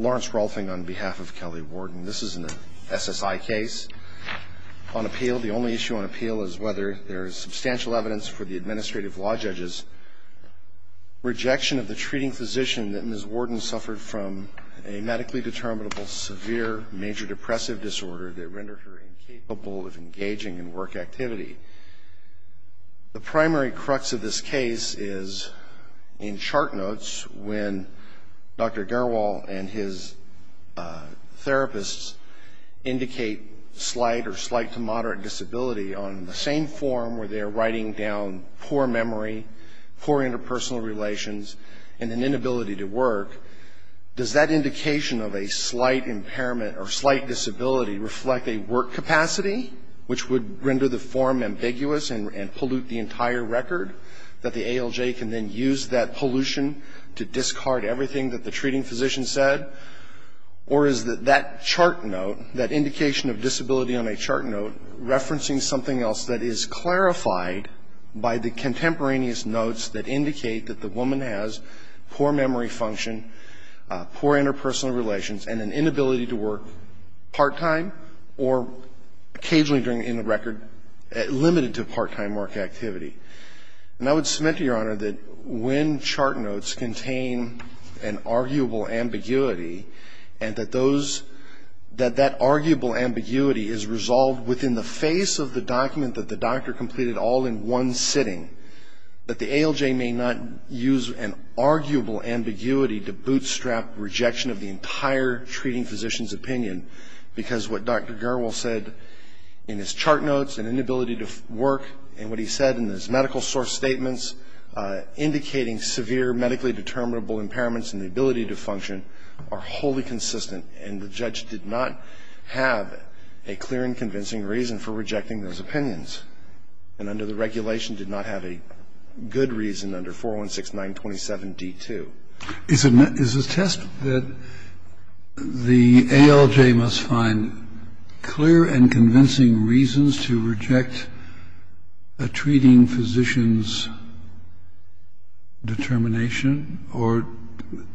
Lawrence Rolfing on behalf of Kelly Worden. This is an SSI case on appeal. The only issue on appeal is whether there is substantial evidence for the administrative law judges' rejection of the treating physician that Ms. Worden suffered from a medically determinable severe major depressive disorder that rendered her incapable of engaging in work activity. The primary crux of this case is in chart notes when Dr. Garwal and his therapists indicate slight or slight to moderate disability on the same form where they're writing down poor memory, poor interpersonal relations and an inability to work. Does that indication of a slight impairment or slight disability reflect a work capacity which would render the form ambiguous and pollute the entire record that the ALJ can then use that pollution to discard everything that the treating physician said? Or is that that chart note, that indication of disability on a chart note, referencing something else that is clarified by the contemporaneous notes that indicate that the woman has poor memory function, poor interpersonal relations, and an inability to work part-time or occasionally during the record limited to part-time work activity? And I would that when chart notes contain an arguable ambiguity and that those, that that arguable ambiguity is resolved within the face of the document that the doctor completed all in one sitting, that the ALJ may not use an arguable ambiguity to bootstrap rejection of the entire treating physician's opinion, because what Dr. Garwal said in his chart notes, an inability to work, and what he said in his medical source statements, indicating severe medically determinable impairments in the ability to function, are wholly consistent, and the judge did not have a clear and convincing reason for rejecting those opinions, and under the regulation did not have a good reason under 416927d2. Is it a test that the ALJ must find clear and convincing reasons to reject a treating physician's determination, or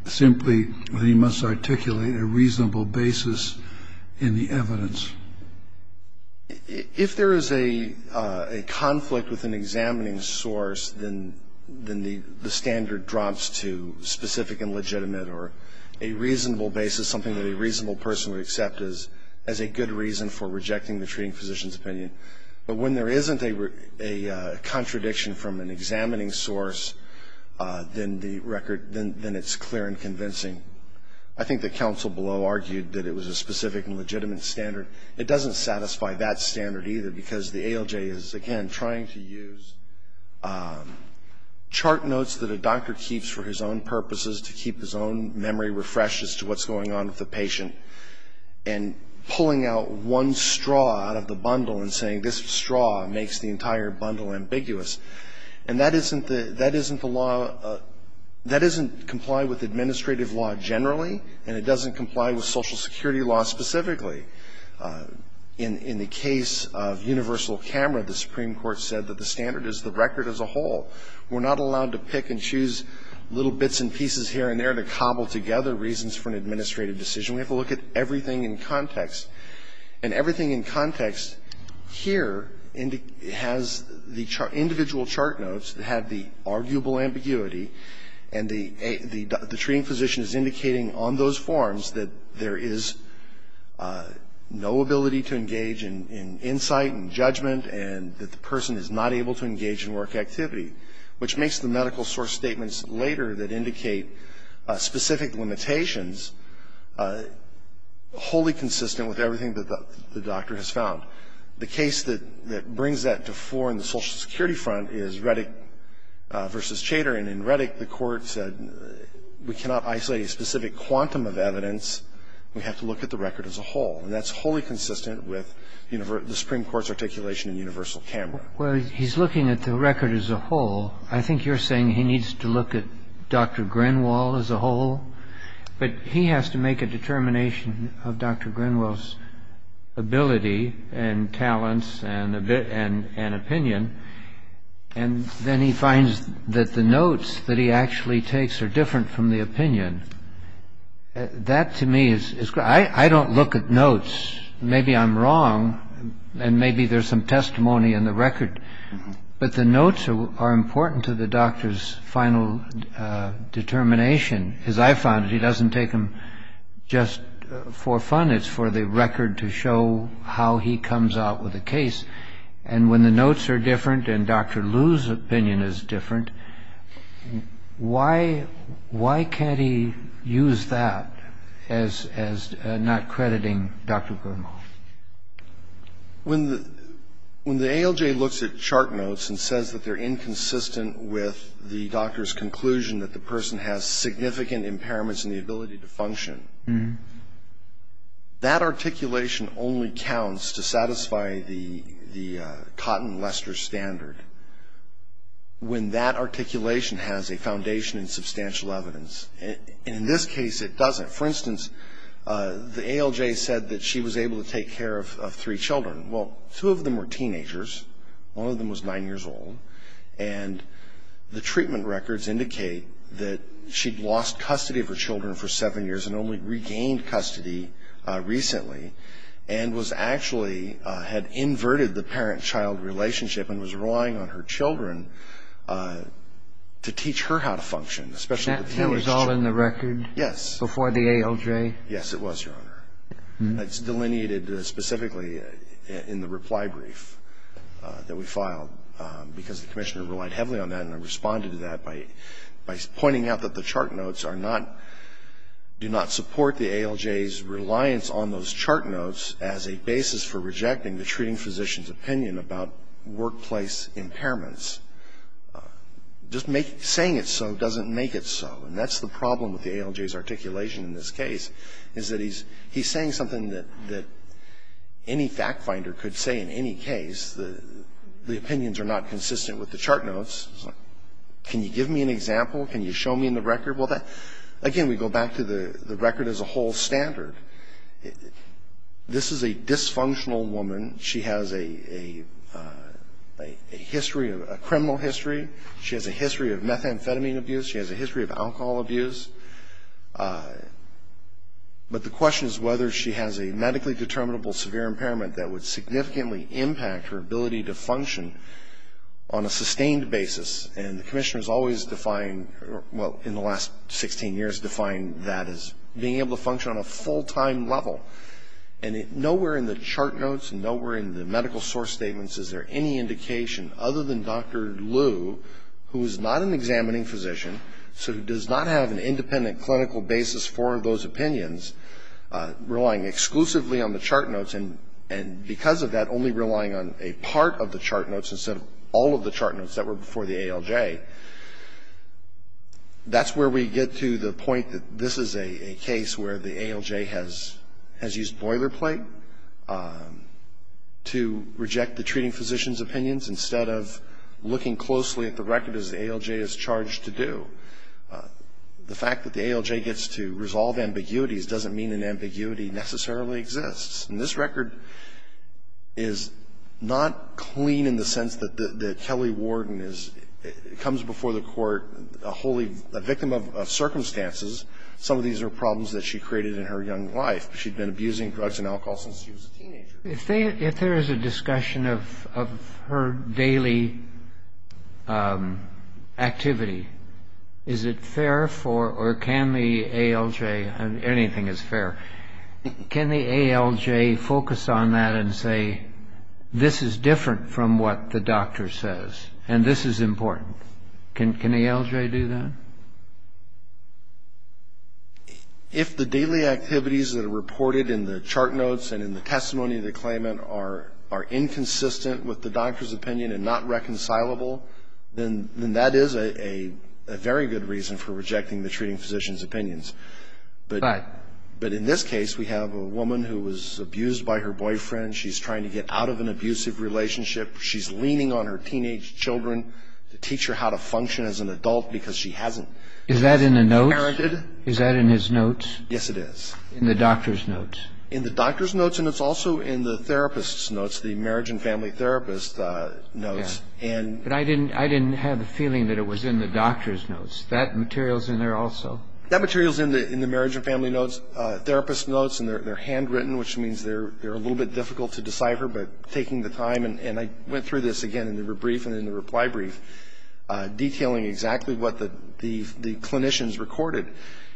simply they must articulate a reasonable basis in the evidence? If there is a conflict with an examining source, then the standard drops to specific and legitimate or a reasonable basis, something that a reasonable person would accept as a good reason for rejecting the treating physician's opinion. But when there isn't a contradiction from an examining source, then the record, then it's clear and convincing. I think that counsel below argued that it was a specific and legitimate standard. It doesn't satisfy that standard either, because the ALJ is, again, trying to use chart notes that a doctor keeps for his own purposes, to keep his own memory refreshed as to what's going on with the patient, and pulling out one straw out of the bundle and saying, this straw makes the entire bundle ambiguous. And that isn't the law, that doesn't comply with administrative law generally, and it doesn't comply with Social Security law specifically. In the case of universal camera, the Supreme Court said that the standard is the record as a whole. We're not allowed to pick and choose little bits and pieces here and there to cobble together reasons for an administrative decision. We have to look at everything in context. And everything in context here has the individual chart notes that have the arguable ambiguity. And the treating physician is indicating on those forms that there is no ability to engage in insight and judgment and that the person is not able to engage in work activity, which makes the medical source statements later that indicate specific limitations wholly consistent with everything that the doctor has found. The case that brings that to fore in the Social Security front is Reddick v. Chater. And in Reddick, the Court said we cannot isolate a specific quantum of evidence. We have to look at the record as a whole. And that's wholly consistent with the Supreme Court's articulation in universal camera. Well, he's looking at the record as a whole. I think you're saying he needs to look at Dr. Grinwall as a whole. But he has to make a determination of Dr. Grinwall's ability and talents and opinion. And then he finds that the notes that he actually takes are different from the opinion. That, to me, is—I don't look at notes. Maybe I'm wrong, and maybe there's some testimony in the record. But the notes are important to the doctor's final determination. As I found it, he doesn't take them just for fun. It's for the record to show how he comes out with a case. And when the notes are different and Dr. Liu's opinion is different, why can't he use that as not crediting Dr. Grinwall? When the ALJ looks at chart notes and says that they're inconsistent with the doctor's conclusion that the person has significant impairments in the ability to function, that articulation only counts to satisfy the Cotton-Lester standard when that articulation has a foundation in substantial evidence. And in this case, it doesn't. For instance, the ALJ said that she was able to take care of three children. Well, two of them were teenagers. One of them was nine years old. And the treatment records indicate that she'd lost custody of her children for seven years and only regained custody recently, and was actually — had inverted the parent-child relationship and was relying on her children to teach her how to function, especially with the ALJ. That thing was all in the record? Yes. Before the ALJ? Yes, it was, Your Honor. It's delineated specifically in the reply brief that we filed, because the commissioner relied heavily on that, and I responded to that by pointing out that the chart notes are not — do not support the ALJ's reliance on those chart notes as a basis for rejecting the treating physician's opinion about workplace impairments. Just saying it's so doesn't make it so. And that's the problem with the ALJ's articulation in this case, is that he's saying something that any fact finder could say in any case. The opinions are not consistent with the chart notes. He's like, can you give me an example? Can you show me in the record? Well, again, we go back to the record as a whole standard. This is a dysfunctional woman. She has a history of — a criminal history. She has a history of methamphetamine abuse. She has a history of alcohol abuse. But the question is whether she has a medically determinable severe impairment that would significantly impact her ability to function on a sustained basis. And the commissioner has always defined — well, in the last 16 years defined that as being able to function on a full-time level. And nowhere in the chart notes and nowhere in the medical source statements is there any indication, other than Dr. Liu, who is not an examining physician, so who does not have an independent clinical basis for those opinions, relying exclusively on the chart notes and because of that only relying on a part of the chart notes instead of all of the chart notes that were before the ALJ. That's where we get to the point that this is a case where the ALJ has used boilerplate to reject the treating physician's opinions instead of looking closely at the record as the ALJ is charged to do. The fact that the ALJ gets to resolve ambiguities doesn't mean an ambiguity necessarily exists. And this record is not clean in the sense that the Kelly warden is — comes before the court a wholly — a victim of circumstances. Some of these are problems that she created in her young life. She'd been abusing drugs and alcohol since she was a teenager. If there is a discussion of her daily activity, is it fair for — or can the ALJ — anything is fair. Can the ALJ focus on that and say, this is different from what the doctor says and this is important? Can the ALJ do that? If the daily activities that are reported in the chart notes and in the testimony of the claimant are inconsistent with the doctor's opinion and not reconcilable, then that is a very good reason for rejecting the treating physician's opinions. But in this case, we have a woman who was abused by her boyfriend. She's trying to get out of an abusive relationship. She's leaning on her teenage children to teach her how to function as an adult because she hasn't been parented. Is that in the notes? Is that in his notes? Yes, it is. In the doctor's notes? In the doctor's notes and it's also in the therapist's notes, the marriage and family therapist notes. But I didn't have a feeling that it was in the doctor's notes. That material's in there also? That material's in the marriage and family therapist notes and they're handwritten, which means they're a little bit difficult to decipher, but taking the time — and I went through this again in the brief and in the reply brief, detailing exactly what the clinicians recorded.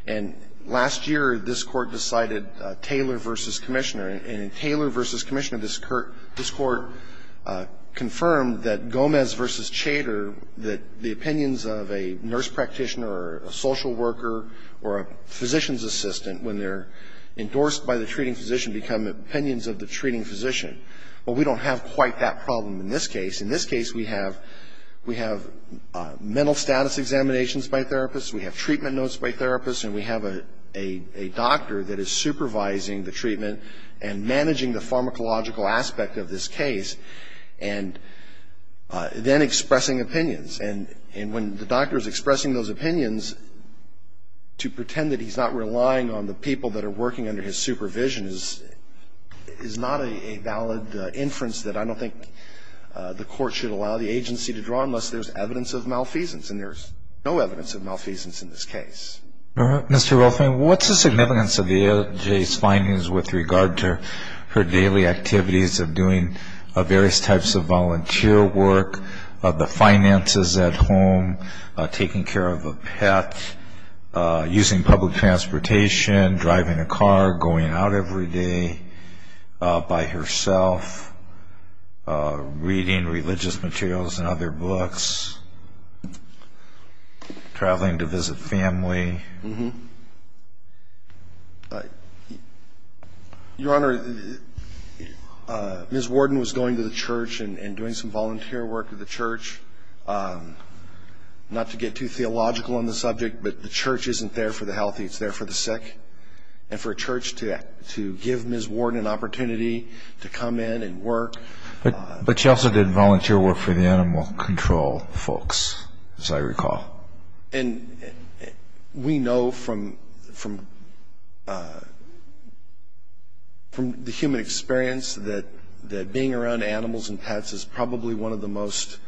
And last year, this Court decided Taylor v. Commissioner. And in Taylor v. Commissioner, this Court confirmed that Gomez v. Chater, that the opinions of a nurse practitioner or a social worker or a physician's assistant when they're endorsed by the treating physician become opinions of the treating physician. Well, we don't have quite that problem in this case. In this case, we have mental status examinations by therapists, we have treatment notes by therapists, and we have a doctor that is supervising the treatment and managing the pharmacological aspect of this case and then expressing opinions. And when the doctor's expressing those opinions, to pretend that he's not relying on the people that are working under his supervision is not a valid inference that I don't think the Court should allow the agency to draw unless there's evidence of malfeasance. And there's no evidence of malfeasance in this case. Mr. Rothman, what's the significance of the ALJ's findings with regard to her daily activities of doing various types of volunteer work, the finances at home, taking care of a pet, using public transportation, driving a car, going out every day by herself, reading religious materials and other books, traveling to visit family? Mm-hmm. Your Honor, Ms. Worden was going to the church and doing some volunteer work at the church, not to get too theological on the subject, but the church isn't there for the healthy, it's there for the sick. And for a church to give Ms. Worden an opportunity to come in and work. But she also did volunteer work for the animal control folks, as I recall. And we know from the human experience that being around animals and pets is probably one of the most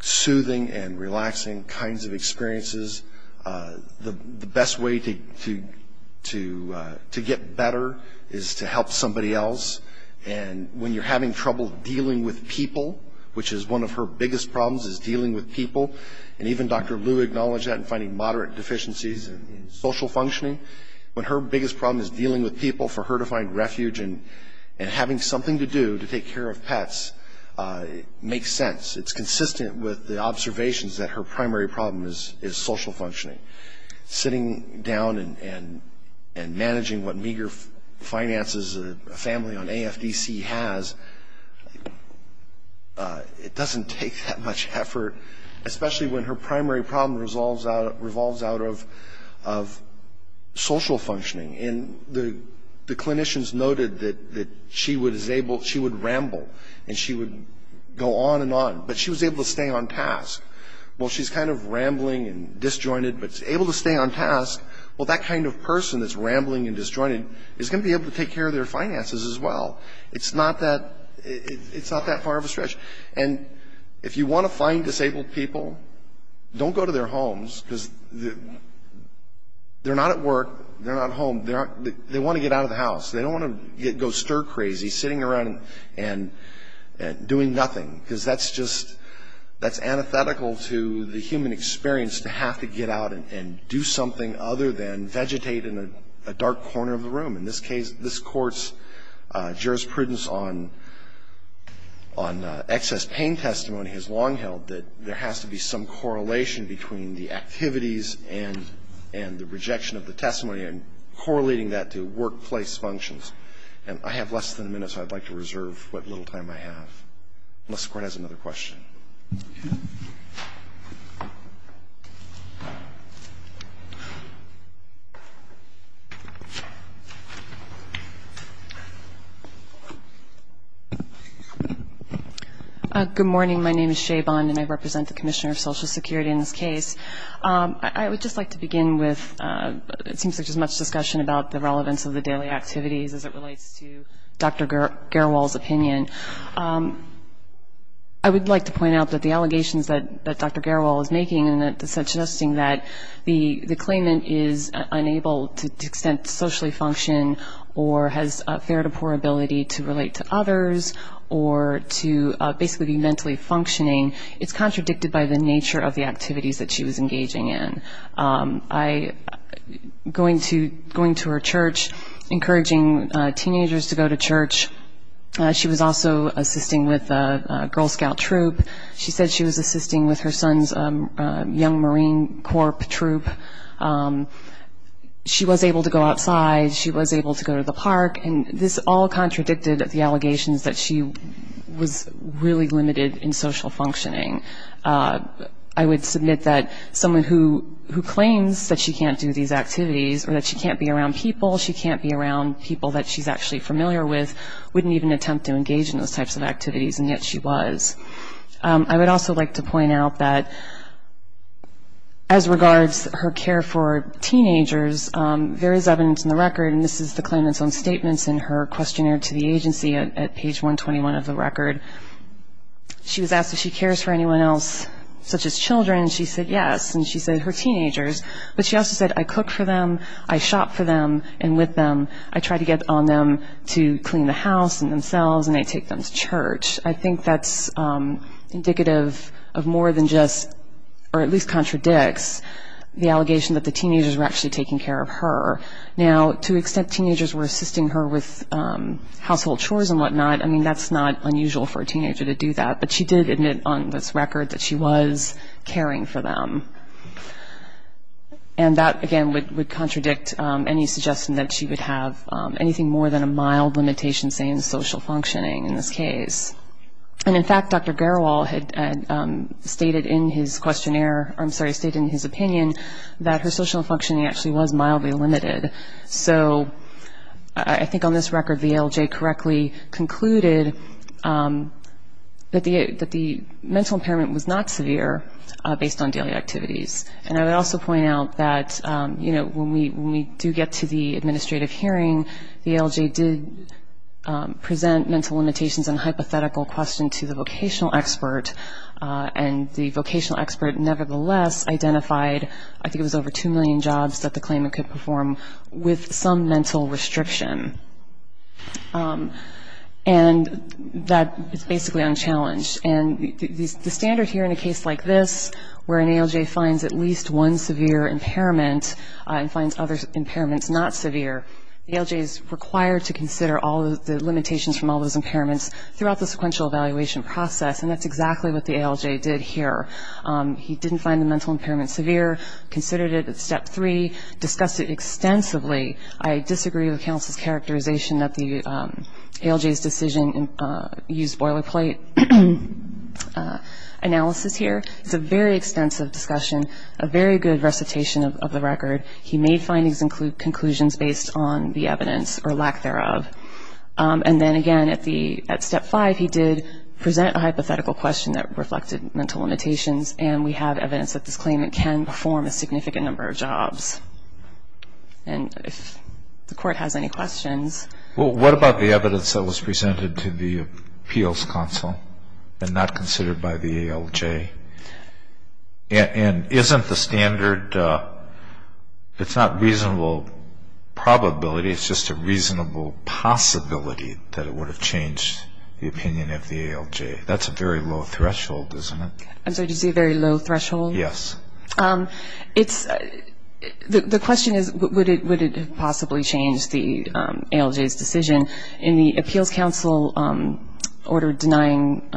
soothing and relaxing kinds of experiences. The best way to get better is to help somebody else. And when you're having trouble dealing with people, which is one of her biggest problems, is dealing with people. And even Dr. Liu acknowledged that in finding moderate deficiencies in social functioning. But her biggest problem is dealing with people for her to find refuge and having something to do to take care of pets makes sense. It's consistent with the observations that her primary problem is social functioning. Sitting down and managing what meager finances a family on AFDC has, it doesn't take that much effort, especially when her primary problem revolves out of social functioning. And the clinicians noted that she would ramble and she would go on and on. But she was able to stay on task. Well, she's kind of rambling and disjointed, but able to stay on task. Well, that kind of person that's rambling and disjointed is going to be able to take care of their finances as well. It's not that far of a stretch. And if you want to find disabled people, don't go to their homes. Because they're not at work. They're not at home. They want to get out of the house. They don't want to go stir crazy sitting around and doing nothing. Because that's just, that's antithetical to the human experience to have to get out and do something other than vegetate in a dark corner of the room. In this case, this Court's jurisprudence on excess pain testimony has long held that there has to be some correlation between the activities and the rejection of the testimony and correlating that to workplace functions. And I have less than a minute, so I'd like to reserve what little time I have. Unless the Court has another question. Okay. Good morning. My name is Shae Bond, and I represent the Commissioner of Social Security in this case. I would just like to begin with, it seems like there's much discussion about the relevance of the daily activities as it relates to Dr. Garewal's opinion. I would like to point out that the allegations that Dr. Garewal is making and suggesting that the claimant is unable to socially function or has a fair to poor ability to relate to others or to basically be mentally functioning, it's contradicted by the nature of the activities that she was engaging in. Going to her church, encouraging teenagers to go to church. She was also assisting with a Girl Scout troop. She said she was assisting with her son's young Marine Corps troop. She was able to go outside. She was able to go to the park. And this all contradicted the allegations that she was really limited in social functioning. I would submit that someone who claims that she can't do these activities or that she can't be around people, she can't be around people that she's actually familiar with, wouldn't even attempt to engage in those types of activities, and yet she was. I would also like to point out that as regards her care for teenagers, there is evidence in the record, and this is the claimant's own statements in her questionnaire to the agency at page 121 of the record. She was asked if she cares for anyone else such as children, and she said yes, and she said her teenagers. But she also said, I cook for them, I shop for them, and with them, I try to get on them to clean the house and themselves, and I take them to church. I think that's indicative of more than just, or at least contradicts, the allegation that the teenagers were actually taking care of her. Now, to the extent teenagers were assisting her with household chores and whatnot, I mean, that's not unusual for a teenager to do that, but she did admit on this record that she was caring for them. And that, again, would contradict any suggestion that she would have anything more than a mild limitation, say, in social functioning in this case. And in fact, Dr. Garowal had stated in his questionnaire, I'm sorry, stated in his opinion, that her social functioning actually was mildly limited. So I think on this record the ALJ correctly concluded that the mental impairment was not severe based on daily activities. And I would also point out that, you know, when we do get to the administrative hearing, the ALJ did present mental limitations and hypothetical question to the vocational expert, and the vocational expert nevertheless identified, I think it was over 2 million jobs, that the claimant could perform with some mental restriction. And that is basically unchallenged. And the standard here in a case like this, where an ALJ finds at least one severe impairment and finds other impairments not severe, the ALJ is required to consider all the limitations from all those impairments throughout the sequential evaluation process, and that's exactly what the ALJ did here. He didn't find the mental impairment severe, considered it at Step 3, discussed it extensively. I disagree with counsel's characterization that the ALJ's decision used boilerplate analysis here. It's a very extensive discussion, a very good recitation of the record. He made findings include conclusions based on the evidence or lack thereof. And then, again, at Step 5, he did present a hypothetical question that reflected mental limitations, and we have evidence that this claimant can perform a significant number of jobs. And if the Court has any questions. Well, what about the evidence that was presented to the appeals counsel and not considered by the ALJ? And isn't the standard, it's not reasonable probability, it's just a reasonable possibility that it would have changed the opinion of the ALJ. That's a very low threshold, isn't it? I'm sorry, did you say a very low threshold? Yes. The question is, would it possibly change the ALJ's decision? In the appeals counsel order denying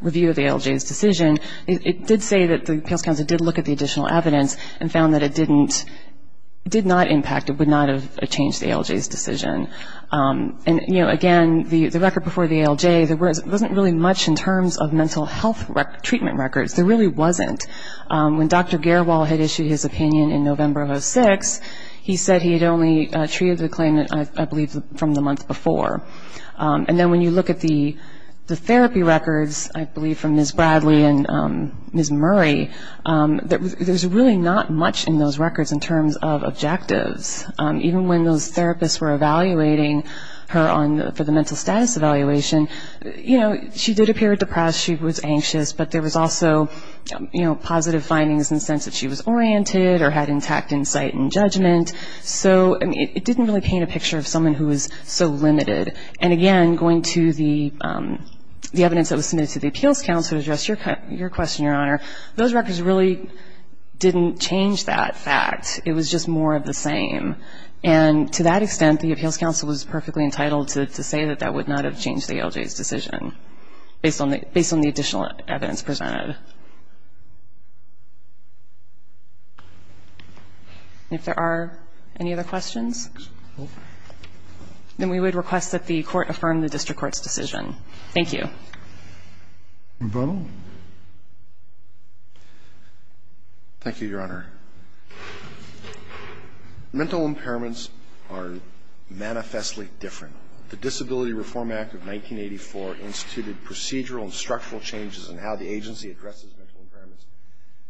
review of the ALJ's decision, it did say that the appeals counsel did look at the additional evidence and found that it did not impact, it would not have changed the ALJ's decision. And, you know, again, the record before the ALJ, there wasn't really much in terms of mental health treatment records. There really wasn't. When Dr. Garewall had issued his opinion in November of 2006, he said he had only treated the claimant, I believe, from the month before. And then when you look at the therapy records, I believe from Ms. Bradley and Ms. Murray, there's really not much in those records in terms of objectives. Even when those therapists were evaluating her for the mental status evaluation, you know, she did appear depressed, she was anxious, but there was also, you know, positive findings in the sense that she was oriented or had intact insight and judgment. So, I mean, it didn't really paint a picture of someone who was so limited. And, again, going to the evidence that was submitted to the appeals counsel to address your question, Your Honor, those records really didn't change that fact. It was just more of the same. And to that extent, the appeals counsel was perfectly entitled to say that that would not have changed the LJ's decision based on the additional evidence presented. And if there are any other questions, then we would request that the Court affirm the district court's decision. Thank you. Brunell? Thank you, Your Honor. Mental impairments are manifestly different. The Disability Reform Act of 1984 instituted procedural and structural changes in how the agency addresses mental impairments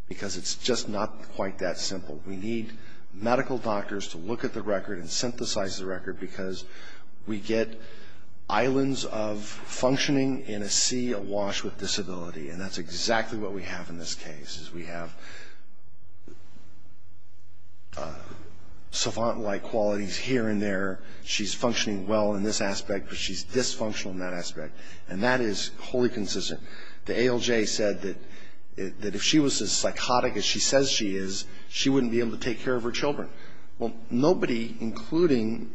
because it's just not quite that simple. We need medical doctors to look at the record and synthesize the record because we get islands of functioning in a sea awash with disability, and that's exactly what we have in this case is we have savant-like qualities here and there. She's functioning well in this aspect, but she's dysfunctional in that aspect. And that is wholly consistent. The ALJ said that if she was as psychotic as she says she is, she wouldn't be able to take care of her children. Well, nobody, including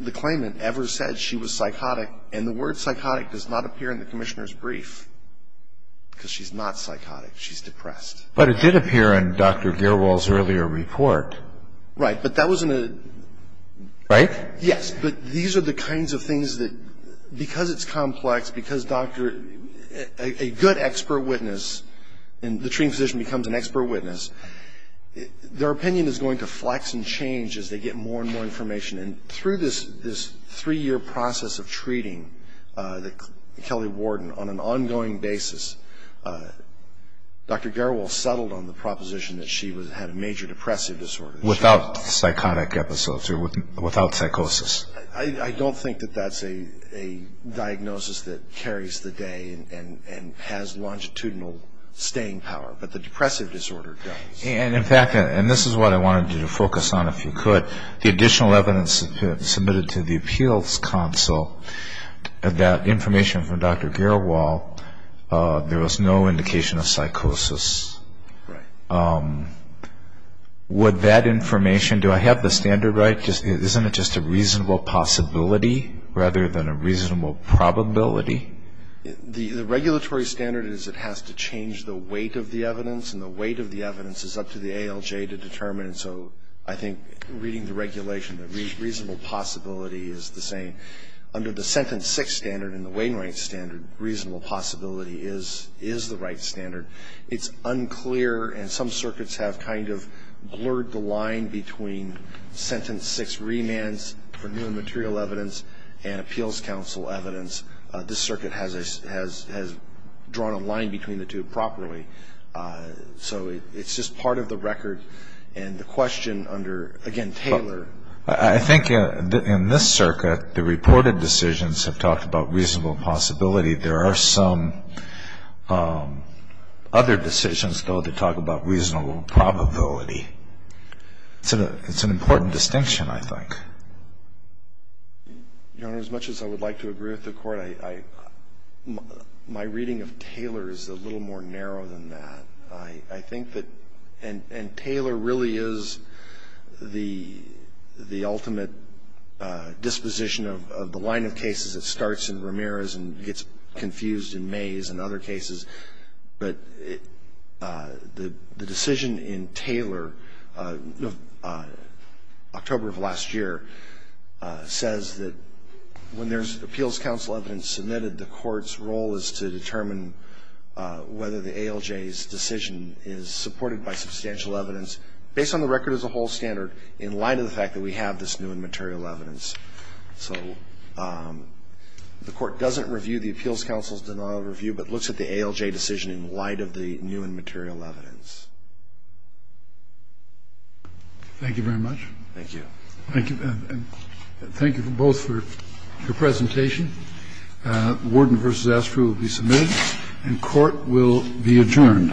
the claimant, ever said she was psychotic, and the word psychotic does not appear in the Commissioner's brief because she's not psychotic. She's depressed. But it did appear in Dr. Gearwold's earlier report. Right. Right? Yes, but these are the kinds of things that, because it's complex, because a good expert witness in the treating physician becomes an expert witness, their opinion is going to flex and change as they get more and more information. And through this three-year process of treating Kelly Warden on an ongoing basis, Dr. Gearwold settled on the proposition that she had a major depressive disorder. Without psychotic episodes or without psychosis. I don't think that that's a diagnosis that carries the day and has longitudinal staying power, but the depressive disorder does. And, in fact, and this is what I wanted you to focus on if you could, the additional evidence submitted to the Appeals Council, that information from Dr. Gearwold, there was no indication of psychosis. Right. Would that information, do I have the standard right? Isn't it just a reasonable possibility rather than a reasonable probability? The regulatory standard is it has to change the weight of the evidence, and the weight of the evidence is up to the ALJ to determine. So I think reading the regulation, the reasonable possibility is the same. Under the Sentence 6 standard and the Wainwright standard, reasonable possibility is the right standard. It's unclear, and some circuits have kind of blurred the line between Sentence 6 remands for new and material evidence and Appeals Council evidence. This circuit has drawn a line between the two properly. So it's just part of the record. And the question under, again, Taylor. I think in this circuit, the reported decisions have talked about reasonable possibility. There are some other decisions, though, that talk about reasonable probability. It's an important distinction, I think. Your Honor, as much as I would like to agree with the Court, my reading of Taylor is a little more narrow than that. I think that, and Taylor really is the ultimate disposition of the line of cases that starts in Ramirez and gets confused in Mays and other cases. But the decision in Taylor, October of last year, says that when there's Appeals Council evidence submitted, the Court's role is to determine whether the ALJ's decision is supported by substantial evidence, based on the record as a whole standard, in light of the fact that we have this new and material evidence. So the Court doesn't review the Appeals Council's denial of review, but looks at the ALJ decision in light of the new and material evidence. Thank you very much. Thank you. Thank you. Thank you both for your presentation. The warden v. Astro will be submitted, and court will be adjourned. Thank you.